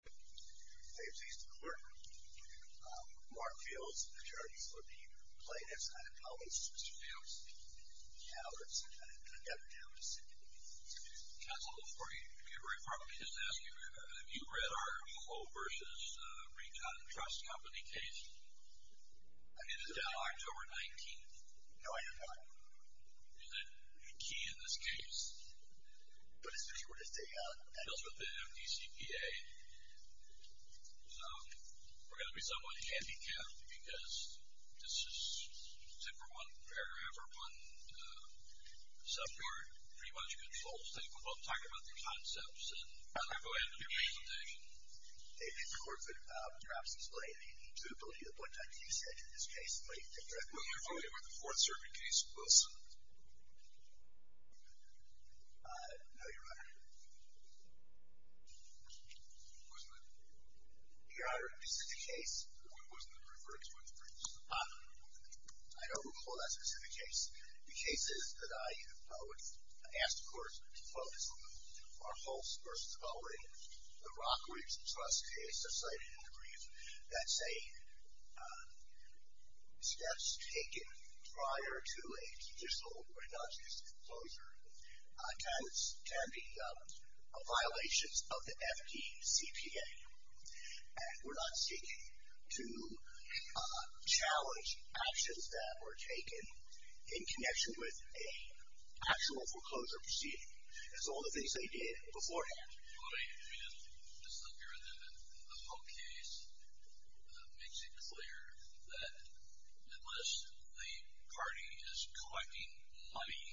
Hey, I'm pleased to report Mark Fields, the attorneys for the plaintiffs, and I apologize to Mr. Fields. Yeah, it's kind of devastating. Counsel, before you get very far, let me just ask you, have you read our Lowell v. Recon Trust Company case? I did. It is now October 19th. No, I have not. Is that a key in this case? Mr. Fields with the MDCPA. We're going to be somewhat handicapped because this is, except for one paragraph or one subpart, pretty much controls them. We'll talk about their concepts, and then I'll go ahead with the presentation. David, the court could perhaps explain the suitability of the point on T6 in this case. Were you familiar with the Fourth Circuit case, Wilson? No, Your Honor. Wasn't it? Your Honor, this is the case. Wasn't it referred to in the briefs? I don't recall that specific case. The cases that I would ask the court to focus on are Hulse v. Oley, the Rockweeds Trust case, which is cited in the brief, that say steps taken prior to a judicial or a non-judicial foreclosure can be violations of the MDCPA. And we're not seeking to challenge actions that were taken in connection with an actual foreclosure proceeding. It's all the things they did beforehand. Just looking at the whole case makes it clear that unless the party is collecting money,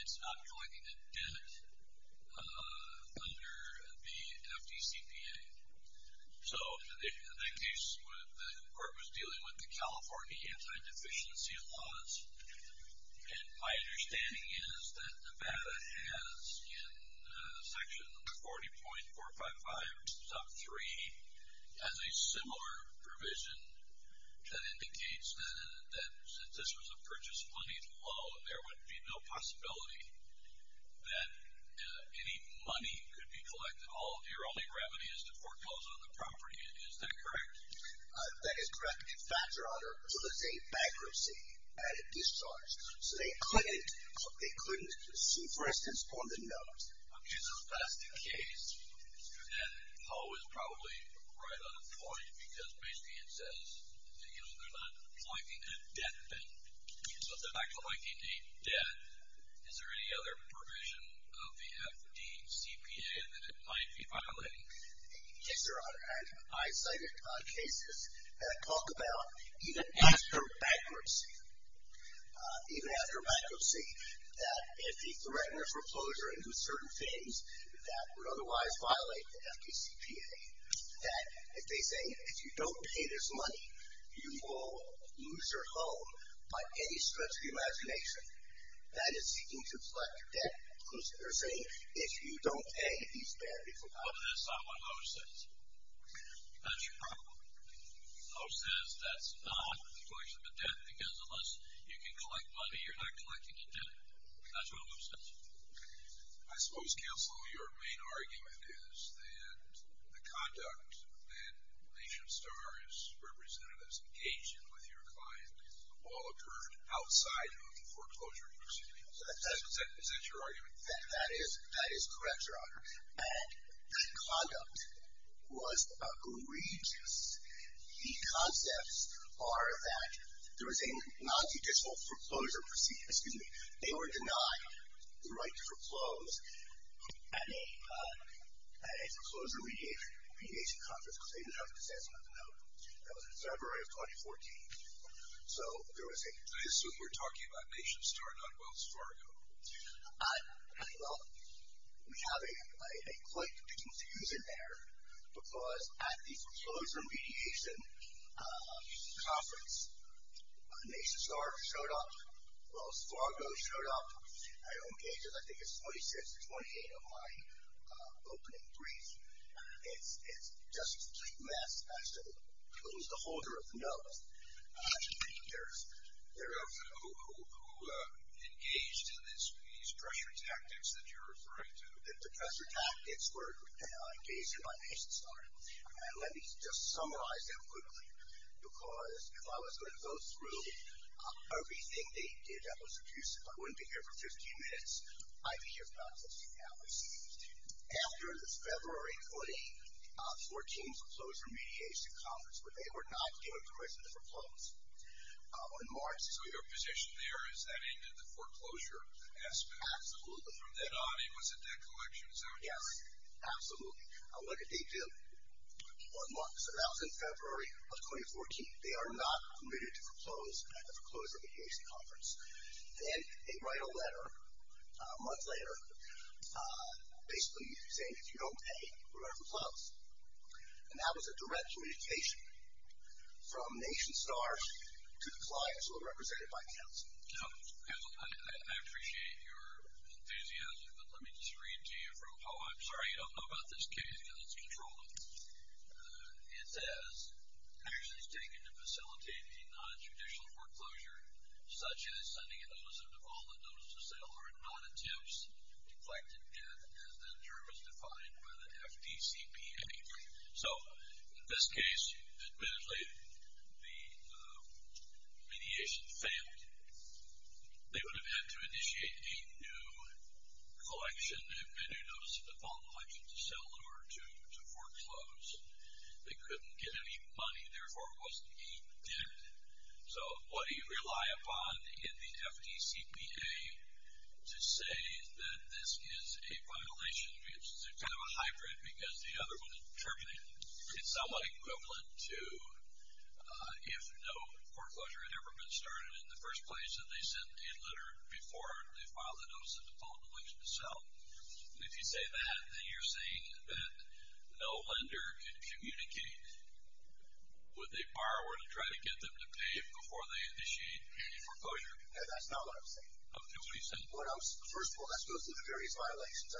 it's not collecting a debt under the MDCPA. So in that case, the court was dealing with the California anti-deficiency laws. And my understanding is that Nevada has, in Section 40.455, Sub 3, has a similar provision that indicates that since this was a purchase-funded loan, there would be no possibility that any money could be collected. Your only remedy is to foreclose on the property. Is that correct? That is correct. In fact, Your Honor, it was a bankruptcy, and it discharged. So they couldn't see, for instance, on the note. Okay, so that's the case. And Paul was probably right on point because basically it says they're not collecting a debt. So if they're not collecting a debt, is there any other provision of the MDCPA that it might be violating? Yes, Your Honor. And I cited cases that talk about even after bankruptcy, that if the threaten of foreclosure and certain things that would otherwise violate the MDCPA, that if they say, if you don't pay this money, you will lose your home by any stretch of the imagination, that is seeking to collect a debt, because they're saying, if you don't pay, you spend. That's not what O says. That's your problem. O says that's not a collection of a debt because unless you can collect money, you're not collecting a debt. That's what O says. I suppose, counsel, your main argument is that the conduct that Nation Star has represented as engaging with your client all occurred outside of the foreclosure proceedings. Is that your argument? That is correct, Your Honor. And that conduct was egregious. The concepts are that there was a nonjudicial foreclosure proceeding. Excuse me. They were denied the right to foreclose at a foreclosure mediation conference because they didn't have a decision on the matter. That was in February of 2014. I assume we're talking about Nation Star, not Wells Fargo. Well, we have a quite confusing error because at the foreclosure mediation conference, Nation Star showed up. Wells Fargo showed up. I don't gauge it. I think it's 26 or 28 of my opening briefs. It's just a complete mess. It was the holder of the notes. Who engaged in these pressure tactics that you're referring to? The pressure tactics were engaged in by Nation Star. Let me just summarize that quickly because if I was going to go through everything they did that was abusive, I wouldn't be here for 15 minutes. I'd be here about 15 hours. After the February 2014 foreclosure mediation conference, they were not given permission to foreclose on March. So your position there is that ended the foreclosure aspect. Absolutely. From then on, it was a decollection. Is that what you're saying? Yes, absolutely. Look at what they did. That was in February of 2014. They are not permitted to foreclose at the foreclosure mediation conference. And they write a letter a month later basically saying if you don't pay, we're going to foreclose. And that was a direct communication from Nation Star to the clients who were represented by counsel. I appreciate your enthusiasm, but let me just read to you from how I'm sorry, you don't know about this case because it's controlled. It says, Actions taken to facilitate a non-judicial foreclosure, such as sending a notice of default on a notice of sale, are non-attempts, deflected death, as the term is defined by the FDCPA. So in this case, admittedly, the mediation failed. They would have had to initiate a new collection, a new notice of default in the election to sell in order to foreclose. They couldn't get any money, therefore it wasn't being did. So what do you rely upon in the FDCPA to say that this is a violation? It's kind of a hybrid because the other one interpreted it somewhat equivalent to if no foreclosure had ever been started in the first place, and they sent a letter before they filed a notice of default in the election to sell. And if you say that, then you're saying that no lender could communicate with a borrower to try to get them to pay before they initiate any foreclosure? No, that's not what I'm saying. Okay, what are you saying? Well, first of all, that goes through the various violations.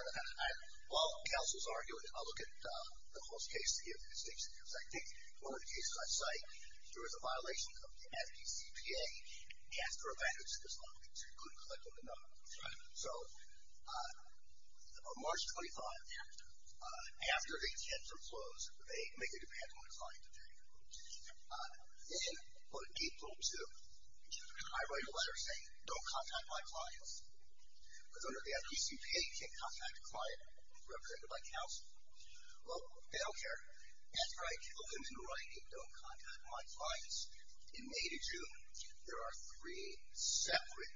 While counsel's arguing, I'll look at Nicole's case to get the distinction. Because I think one of the cases I cite, there was a violation of the FDCPA, and they asked for a bandage to this letter because they couldn't collect enough. So on March 25th, after they had foreclosed, they make a demand on a client to pay. Then on April 2nd, I write a letter saying, don't contact my clients. Because under the FDCPA, you can't contact a client represented by counsel. Well, they don't care. After I kill them in writing, don't contact my clients, in May to June, there are three separate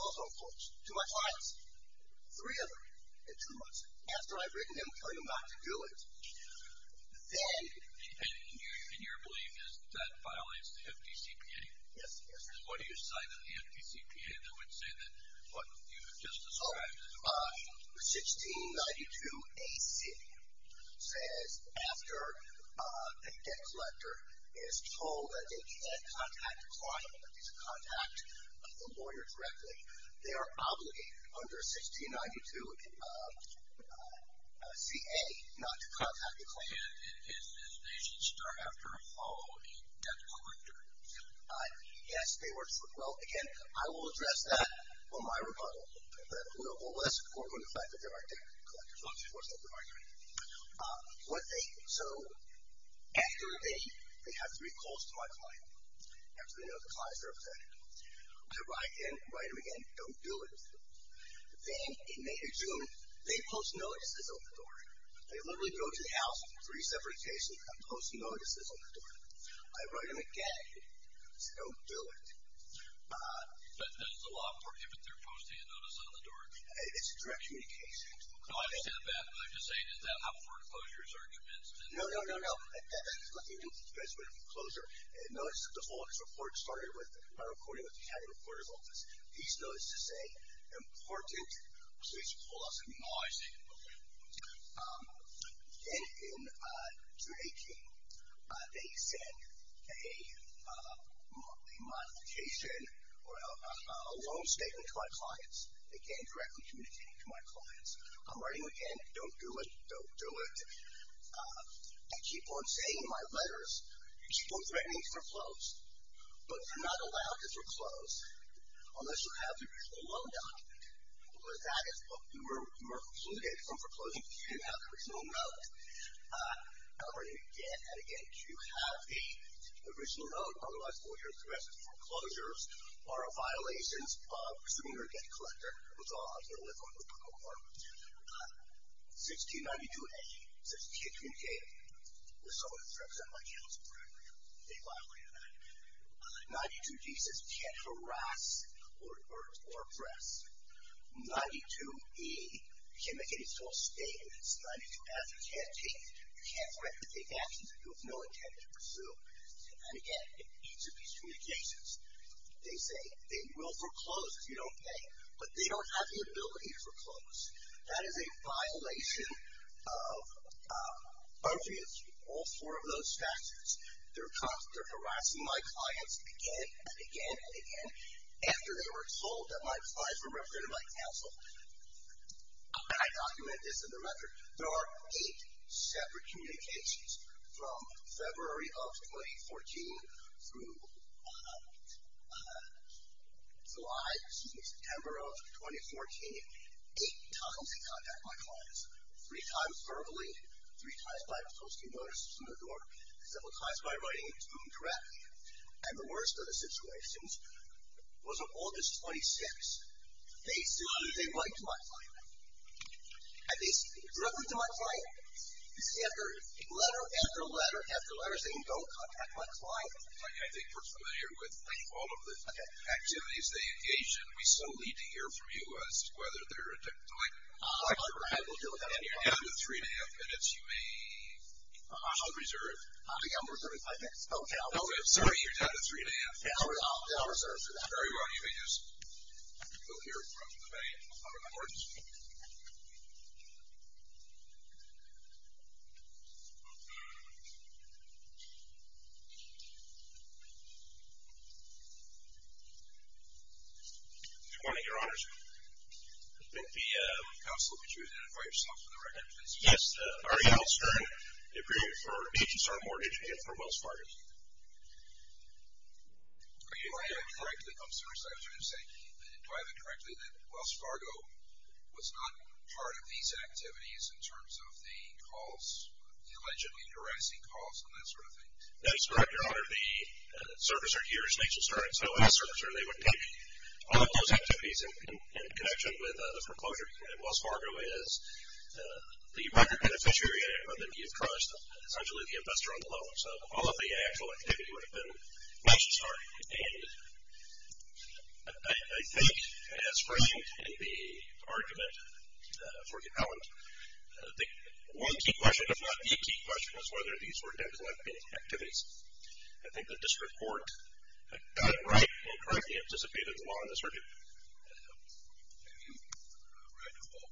counsel folks to my clients. Three of them in two months. After I've written them telling them not to do it, then. And your belief is that violates the FDCPA? Yes, yes. What do you cite in the FDCPA that would say that what you have just described is a violation? 1692 A.C. says, after a debt collector is told that they can't contact a client, but they can contact the lawyer directly, they are obligated under 1692 C.A. not to contact the client. And they should start after a following debt collector? Yes, they were. Well, again, I will address that on my rebuttal. Well, that's important, the fact that there are debt collectors. So, after they have three calls to my client, after they know the client is represented, I write them again, don't do it. Then in May to June, they post notices on the door. They literally go to the house, three separate cases, and post notices on the door. I write them again, don't do it. But does the law prohibit their posting a notice on the door? It's a direct communication. I understand that, but I'm just saying, is that how foreclosures are commenced? No, no, no, no. You guys went to foreclosure. Notice, the foreclosure report started with a recording of the county reporter's office. These notices say, important, so they should pull us in. Oh, I see, okay. Then in June 18, they send a modification or a loan statement to my clients. Again, directly communicating to my clients. I'm writing again, don't do it, don't do it. I keep on saying in my letters, keep on threatening foreclosed, but you're not allowed to foreclose unless you have the original loan document, because that is what you were excluded from foreclosing if you didn't have the original note. I'm writing again and again. If you have the original note, otherwise, all your aggressive foreclosures are a violation of pursuing your debt collector, which I'll have to lift on the protocol part. 1692A says, can't communicate with someone who's represented by counsel. They violated that. 92D says, can't harass or oppress. 92E, you can't make any false statements. 92F, you can't threaten to take actions that you have no intent to pursue. And again, in each of these communications, they say they will foreclose if you don't pay, but they don't have the ability to foreclose. That is a violation of all four of those factors. They're harassing my clients again and again and again after they were told that my clients were represented by counsel. I document this in the record. There are eight separate communications from February of 2014 through July, excuse me, September of 2014, eight times they contact my clients, three times verbally, three times by posting notices in the door, several times by writing a to-do draft, and the worst of the situations was on August 26th. They see me, they write to my client. And they see me directly to my client, letter after letter after letter, saying don't contact my client. I think we're familiar with all of the activities they engage in. We still need to hear from you as to whether they're a debt collector. You're down to three and a half minutes. You may reserve. I'm reserving five minutes. Sorry, you're down to three and a half. I'll reserve for that. Very well. You may just go here from the main board. Good morning, Your Honors. The counsel, would you identify yourself for the record, please? Yes. Ariel Stern, the appraiser for Nation Star Mortgage and for Wells Fargo. Are you aware correctly, I'm sorry, I was going to say, do I have it correctly that Wells Fargo was not part of these activities in terms of the calls, the allegedly duressing calls and that sort of thing? That is correct, Your Honor. The servicer here is Nation Star, and so as servicer they would take all of those activities in connection with the foreclosure. And Wells Fargo is the record beneficiary of it. You've trust, essentially, the investor on the loan. So all of the actual activity would have been Nation Star. And I think as framed in the argument for the element, the one key question, if not the key question, is whether these were debt collecting activities. I think the district court got it right and correctly anticipated the law in this region. Have you read the law?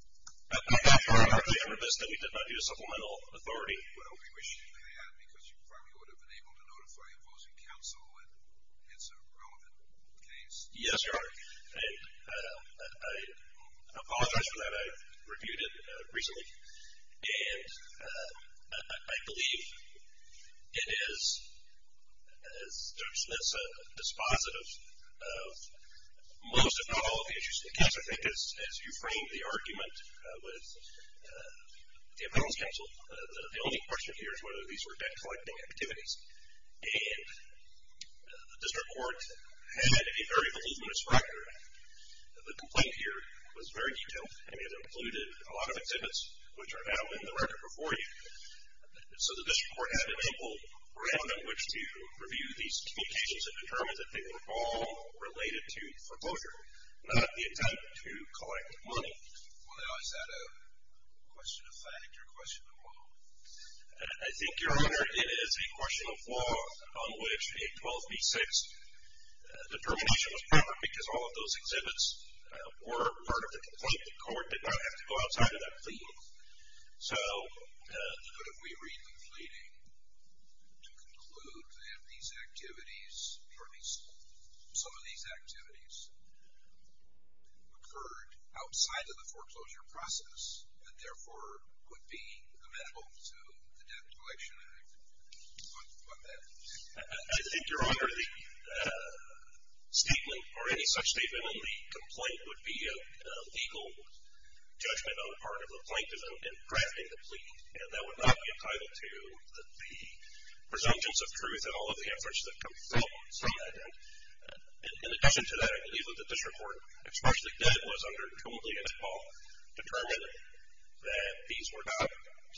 Actually, I'm remiss that we did not do a supplemental authority. Well, we wish you had because you probably would have been able to notify opposing counsel and it's a relevant case. Yes, Your Honor. And I apologize for that. I reviewed it recently. And I believe it is, as Judge Smith said, dispositive of most, if not all, of the issues in the case. I think as you framed the argument with the opposing counsel, the only question here is whether these were debt collecting activities. And the district court had a very voluminous record. The complaint here was very detailed. It included a lot of exhibits which are now in the record before you. So the district court had an ample ground in which to review these communications and determine that they were all related to foreclosure, not the attempt to collect money. Well, now, is that a question of fact or a question of law? I think, Your Honor, it is a question of law on which a 12b-6 determination was proper because all of those exhibits were part of the complaint. The court did not have to go outside of that plea. So what if we read the pleading to conclude that these activities, or at least some of these activities, occurred outside of the foreclosure process and therefore would be amenable to the Debt Collection Act? What then? I think, Your Honor, the statement or any such statement in the complaint would be a legal judgment on the part of the plaintiff in drafting the plea, and that would not be entitled to the presumptions of truth in all of the efforts that come from that. And in addition to that, I believe that the district court, especially the debt was under totally admissible, determined that these were not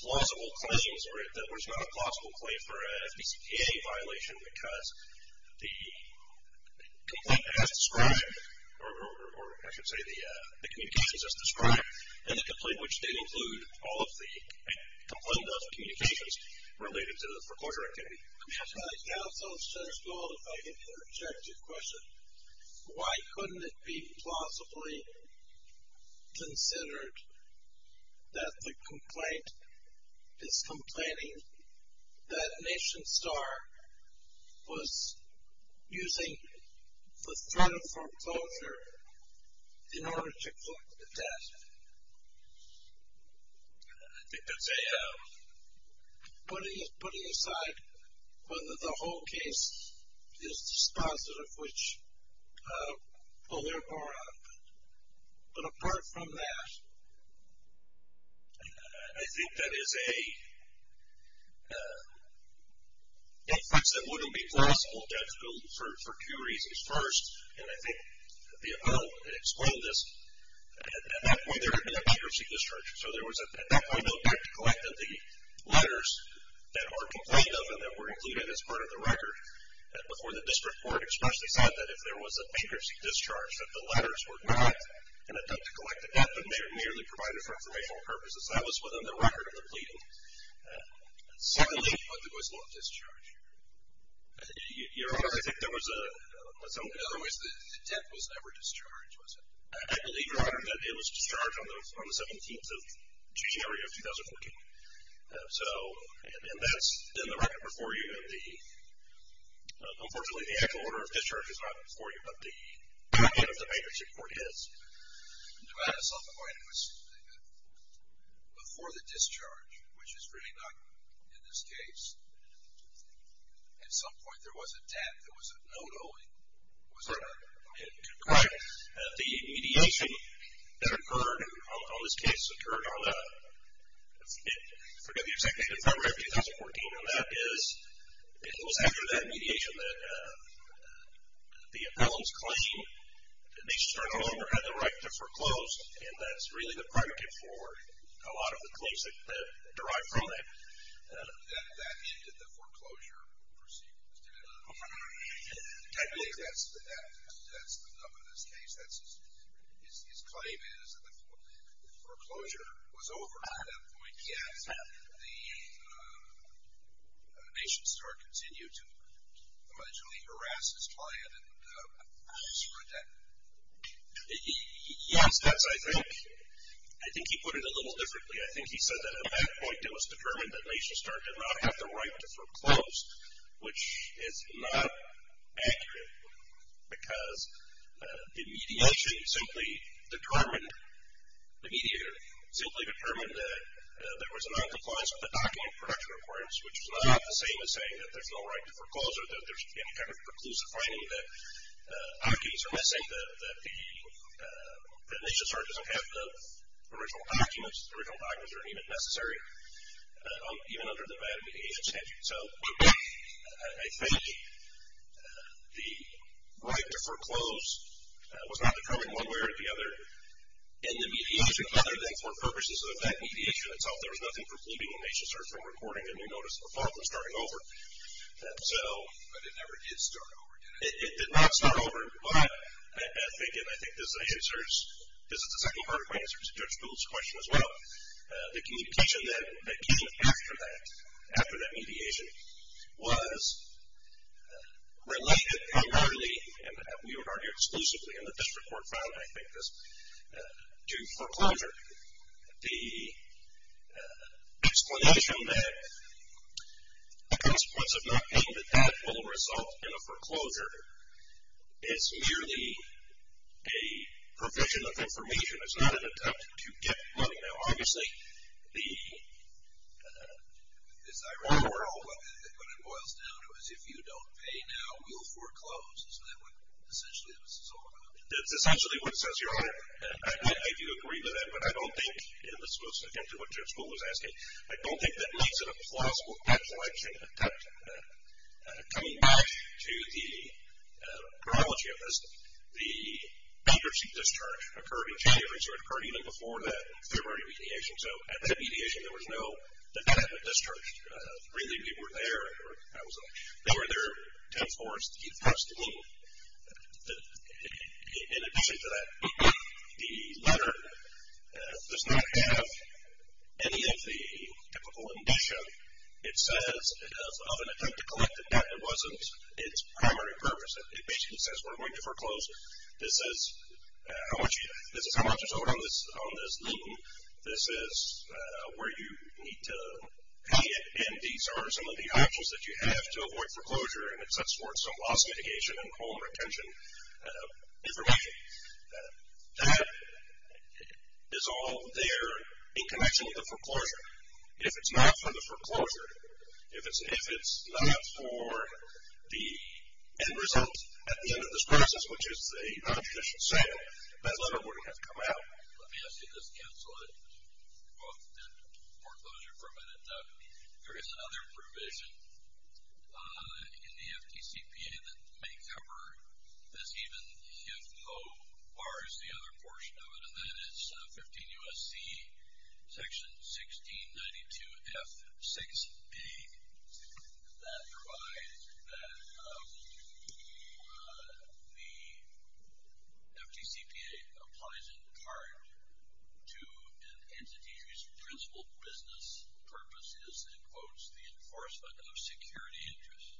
plausible claims, or that there was not a plausible claim for a FDCPA violation because the complaint as described, or I should say the communications as described, in the complaint which did include all of the complaint of communications related to the foreclosure activity. Counsel, if I could interject a question. Why couldn't it be plausibly considered that the complaint is complaining that Nation Star was using the threat of foreclosure in order to collect the debt? I think that's putting aside whether the whole case is dispositive, which will therefore, but apart from that, I think that is a case that wouldn't be plausible, definitely for two reasons. First, and I think the appeal explained this, at that point there had been a bankruptcy discharge. So there was at that point no debt to collect of the letters that are complained of and that were included as part of the record. Before the district court expressly said that if there was a bankruptcy discharge, that the letters were not an attempt to collect the debt, but merely provided for informational purposes. That was within the record of the pleading. Secondly, there was no discharge. Your Honor, I think there was a... In other words, the debt was never discharged, was it? I believe, Your Honor, that it was discharged on the 17th of January of 2014. And that's in the record before you. Unfortunately, the actual order of discharge is not before you, but the document of the bankruptcy court is. But at some point it was before the discharge, which is really not in this case. At some point there was a debt. There was a note only. Was that correct? Correct. The mediation that occurred on this case occurred on the... I forget the exact date. February of 2014. And that is, it was after that mediation that the appellant's claim that they should turn it over had the right to foreclose, and that's really the predicate for a lot of the claims that derive from it, that that ended the foreclosure proceedings. Technically, that's the... That's the... In this case, his claim is that the foreclosure was over at that point, yet the nation star continued to allegedly harass his client and spread debt. Yes, that's, I think. I think he put it a little differently. I think he said that at that point it was determined that nation star did not have the right to foreclose, which is not accurate because the mediation simply determined, the mediator simply determined that there was a non-compliance with the document of production requirements, which is not the same as saying that there's no right to foreclose or that there's any kind of preclusive finding that opiates are missing, that nation star doesn't have the original documents, the original documents aren't even necessary, even under the Violent Mediation Statute. So I think the right to foreclose was not determined one way or the other in the mediation, other than for purposes of that mediation itself. There was nothing precluding the nation star from recording a new notice of law from starting over. But it never did start over, did it? It did not start over, but I think, and I think this answers, this is the second part of my answer to Judge Gould's question as well, the communication that came after that, after that mediation, was related primarily, and we would argue exclusively in the district court file, I think, to foreclosure. The explanation that the consequence of not paying the debt will result in a foreclosure, it's merely a provision of information. It's not an attempt to get money. Now, obviously, the, it's ironical, but it boils down to is if you don't pay now, you'll foreclose. So that's essentially what this is all about. That's essentially what it says here. I do agree with that, but I don't think, and this goes again to what Judge Gould was asking, I don't think that leads to a plausible foreclosure attempt. Coming back to the chronology of this, the leadership discharge occurred in January, so it occurred even before that February mediation. So at that mediation, there was no, the debt had been discharged. Really, we were there. They were there 10-4. In addition to that, the letter does not have any of the typical indicia. It says of an attempt to collect the debt, it wasn't its primary purpose. It basically says we're going to foreclose. This is how much is owed on this lien. This is where you need to pay it, and these are some of the options that you have to avoid foreclosure, and it sets forth some loss mitigation and home retention information. That is all there in connection with the foreclosure. If it's not for the foreclosure, if it's not for the end result at the end of this process, which is a non-judicial sale, that letter wouldn't have come out. Let me ask you to just cancel it and foreclosure for a minute. There is another provision in the FDCPA that may cover this even if no bar is the other portion of it, and that is 15 U.S.C. section 1692F6A. That provides that the FDCPA applies in part to an entity whose principal business purpose is, in quotes, the enforcement of security interests.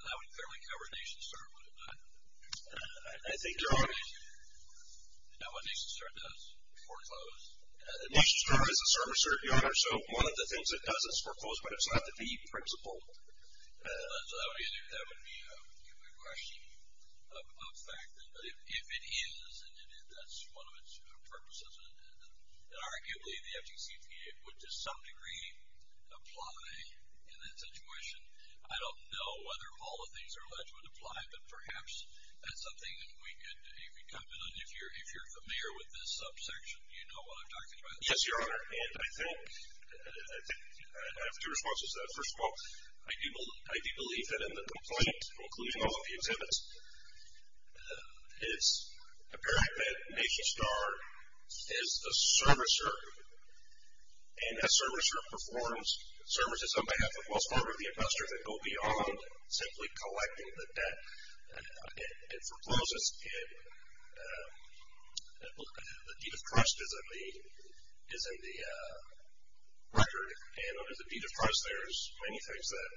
That would clearly cover NationServe, wouldn't it? I think so. You know what NationServe does? Foreclose. NationServe is a service provider, so one of the things it does is foreclose, but it's not the key principal. That would be a question of fact. If it is, and that's one of its purposes, and arguably the FDCPA would to some degree apply in that situation. I don't know whether all of these are alleged would apply, but perhaps that's something that we could, if you're familiar with this subsection, you know what I'm talking about. Yes, Your Honor, and I think I have two responses to that. First of all, I do believe that in the complaint, including all of the exhibits, it's apparent that NationStar is a servicer, and that servicer performs services on behalf of, that go beyond simply collecting the debt. It forecloses. The deed of trust is in the record, and under the deed of trust, there's many things that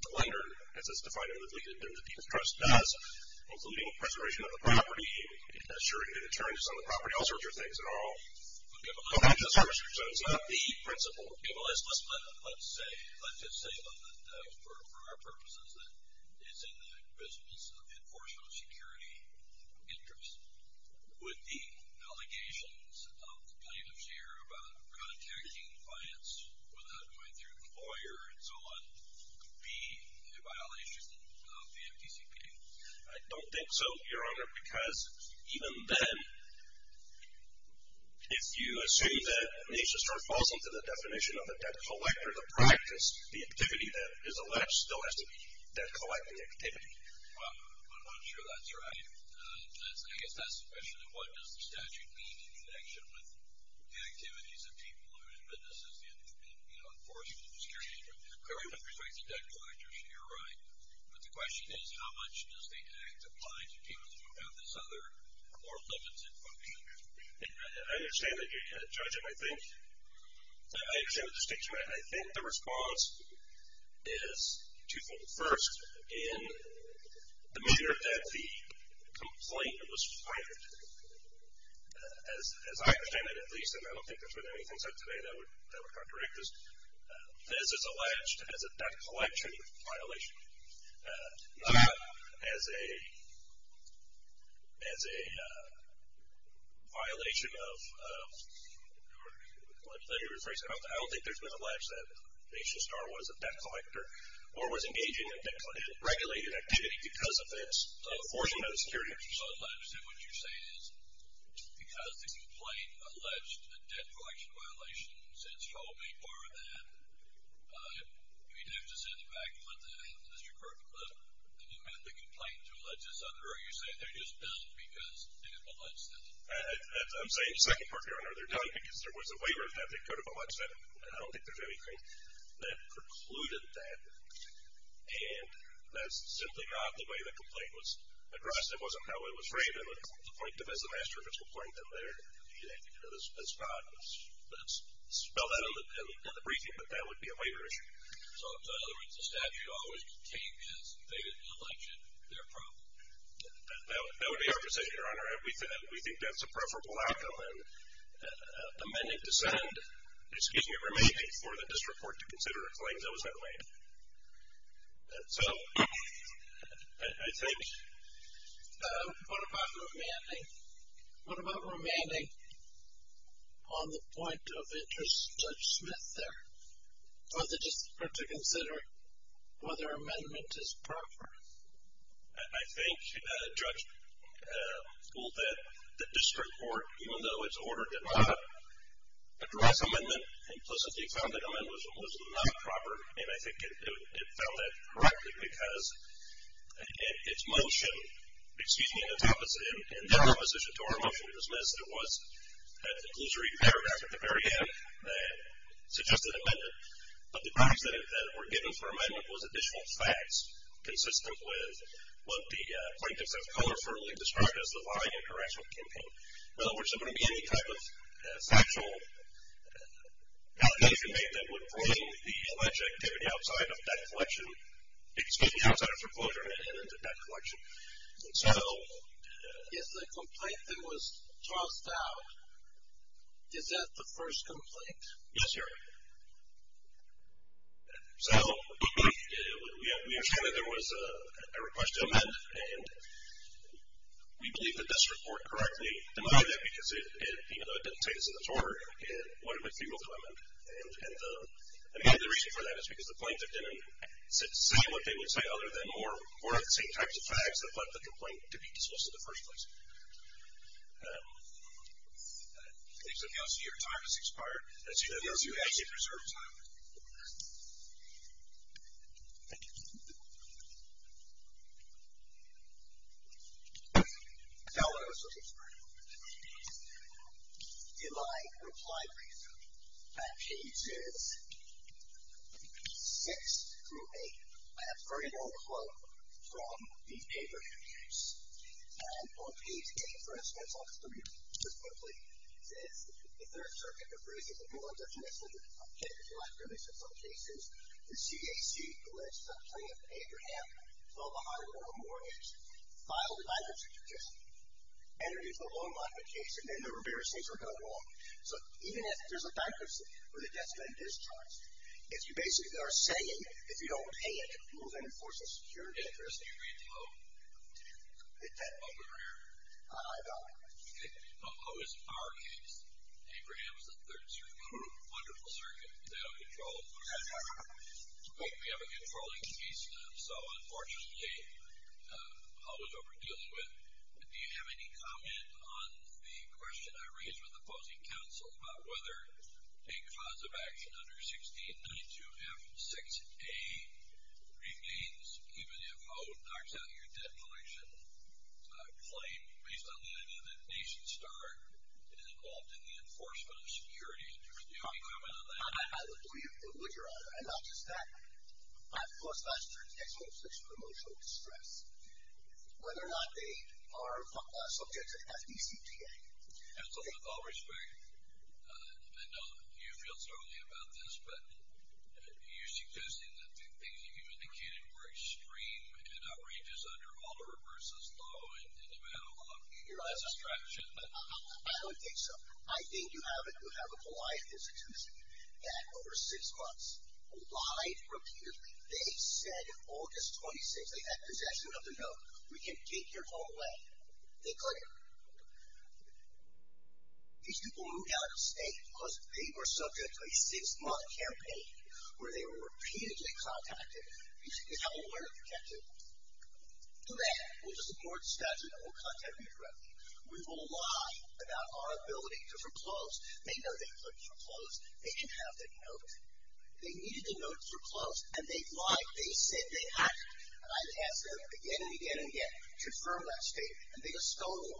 the lender, as it's defined in the deed of trust, does, including preservation of the property, assuring the deterrence on the property, all sorts of things that all go back to the servicer. So it's not the principal. Okay, well let's just say, for our purposes, that it's in the business of enforcement of security interests. Would the allegations of plaintiffs here about contacting clients without going through the lawyer and so on be a violation of the FDCPA? I don't think so, Your Honor, because even then, if you assume that NationStar falls under the definition of a debt collector, the practice, the activity that is alleged still has to be debt collecting activity. Well, I'm sure that's right. I guess that's the question, and what does the statute mean in connection with the activities of people who do businesses in enforcement of security interests? Clearly, with respect to debt collectors, you're right. But the question is, how much does the act apply to people who have this other more limited function? I understand that, Judge, and I think the response is twofold. First, in the manner that the complaint was filed, as I understand it at least, and I don't think there's been anything said today that would contradict this, this is alleged as a debt collection violation, not as a violation of, let me rephrase it, I don't think there's been an allege that NationStar was a debt collector or was engaging in regulated activity because of its enforcement of security interests. I understand what you're saying is because the complaint alleged a debt collection violation, and since Shelby barred that, we'd have to say the fact that Mr. Kirkcliffe didn't have the complaint to allege this other, or are you saying they're just done because they didn't allege that? I'm saying the second part, Your Honor, they're done because there was a waiver that they could have alleged that, and I don't think there's anything that precluded that, and that's simply not the way the complaint was addressed. It wasn't how it was framed, and the point to Mr. Master, that's not, let's spell that in the briefing, but that would be a waiver issue. So, in other words, the statute always contained this. They didn't allege it. They're a problem. That would be our position, Your Honor. We think that's a preferable outcome, and amending to send, excuse me, remaining for the district court to consider a claim that was not waived. So, I think. What about remaining? What about remaining on the point of interest, Judge Smith, there, for the district court to consider whether amendment is proper? I think, Judge, the district court, even though it's ordered to not address amendment, implicitly found the amendment was not proper, and I think it found that correctly because its motion, excuse me, in that proposition to our motion, it was missed. It was at the glosary paragraph at the very end that suggested amendment, but the grounds that it were given for amendment was additional facts consistent with what the plaintiffs have colorfully described as the lobbying and correctional campaign. In other words, there wouldn't be any type of factual allegation made that would bring the alleged activity outside of debt collection, excuse me, outside of foreclosure and into debt collection. So. If the complaint that was tossed out, is that the first complaint? Yes, Your Honor. So, we have shown that there was a request to amend, and we believe the district court correctly denied that because it, it went a bit through with the amendment. And the reason for that is because the plaintiff didn't say what they would say other than more of the same types of facts that led the complaint to be disclosed in the first place. Anything else? Your time has expired. As you know, you actually preserved time. Thank you. Your time has expired. Your time has expired. In my reply brief at pages 6 through 8, I have a very long quote from the paper that I use. And on page 8, for instance, I'll just read it to you quickly. It says, the Third Circuit approves of the new law definition in some cases. The CAC, the legislative plaintiff, Abraham, fell behind on a mortgage, filed a bankruptcy petition, entered into a loan modification, and there were various things that were going on. So, even if there's a bankruptcy, or the debt's been discharged, if you basically are saying, if you don't pay it, it will then enforce a security interest. Did you read the quote? I did. Did that quote appear? I don't. Okay. The quote is in our case. Abraham's the Third Circuit. Wonderful circuit. Is that on control? We have a controlling piece. So, unfortunately, I'll move over to dealing with, do you have any comment on the question I raised with opposing counsel about whether a cause of action under 1692F6A remains, even if O knocks out your debt collection claim, based on the idea that Nation Star is involved in the enforcement of security interest? Do you have any comment on that? I would agree with your honor. And not just that, I of course must turn to the ex-officer for emotional distress, whether or not they are subject to the FDCPA. Counsel, with all respect, I know you feel strongly about this, but you're suggesting that the things that you've indicated were extreme and outrageous under Oliver v. Lowe, and you had a lot of distraction. I don't think so. I think you have a polite institution that, over six months, lied repeatedly. They said August 26th, they had possession of the note, we can take your call away. They couldn't. These people moved out of the state because they were subject to a six-month campaign where they were repeatedly contacted. You have a lawyer protected. Do that. We'll just ignore the statute and we'll contact you directly. We will lie about our ability to foreclose. They know they could foreclose. They didn't have that note. They needed the note foreclosed. And they lied. They said they had. And I've asked them again and again and again to confirm that statement, and they just stole it.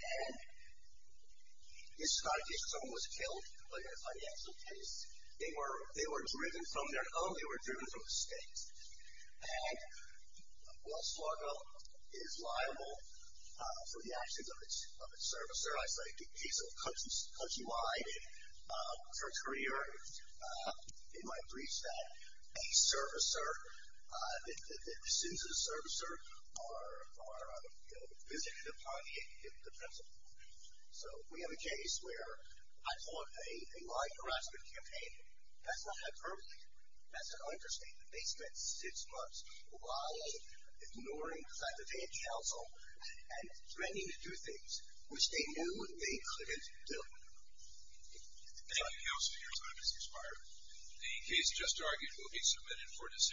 And this is not a case where someone was killed by their financial police. They were driven from their home. They were driven from the state. And Wells Fargo is liable for the actions of its servicer. I cite the case of Countrywide for a courier in my briefs that a servicer, that the sins of the servicer are visited upon in the principal. So we have a case where I call it a lie harassment campaign. That's not hyperbole. That's an understatement. They spent six months while ignoring the fact that they had counsel and threatening to do things which they knew they couldn't do. Thank you, Counsel. Your time has expired. The case just argued will be submitted for decision.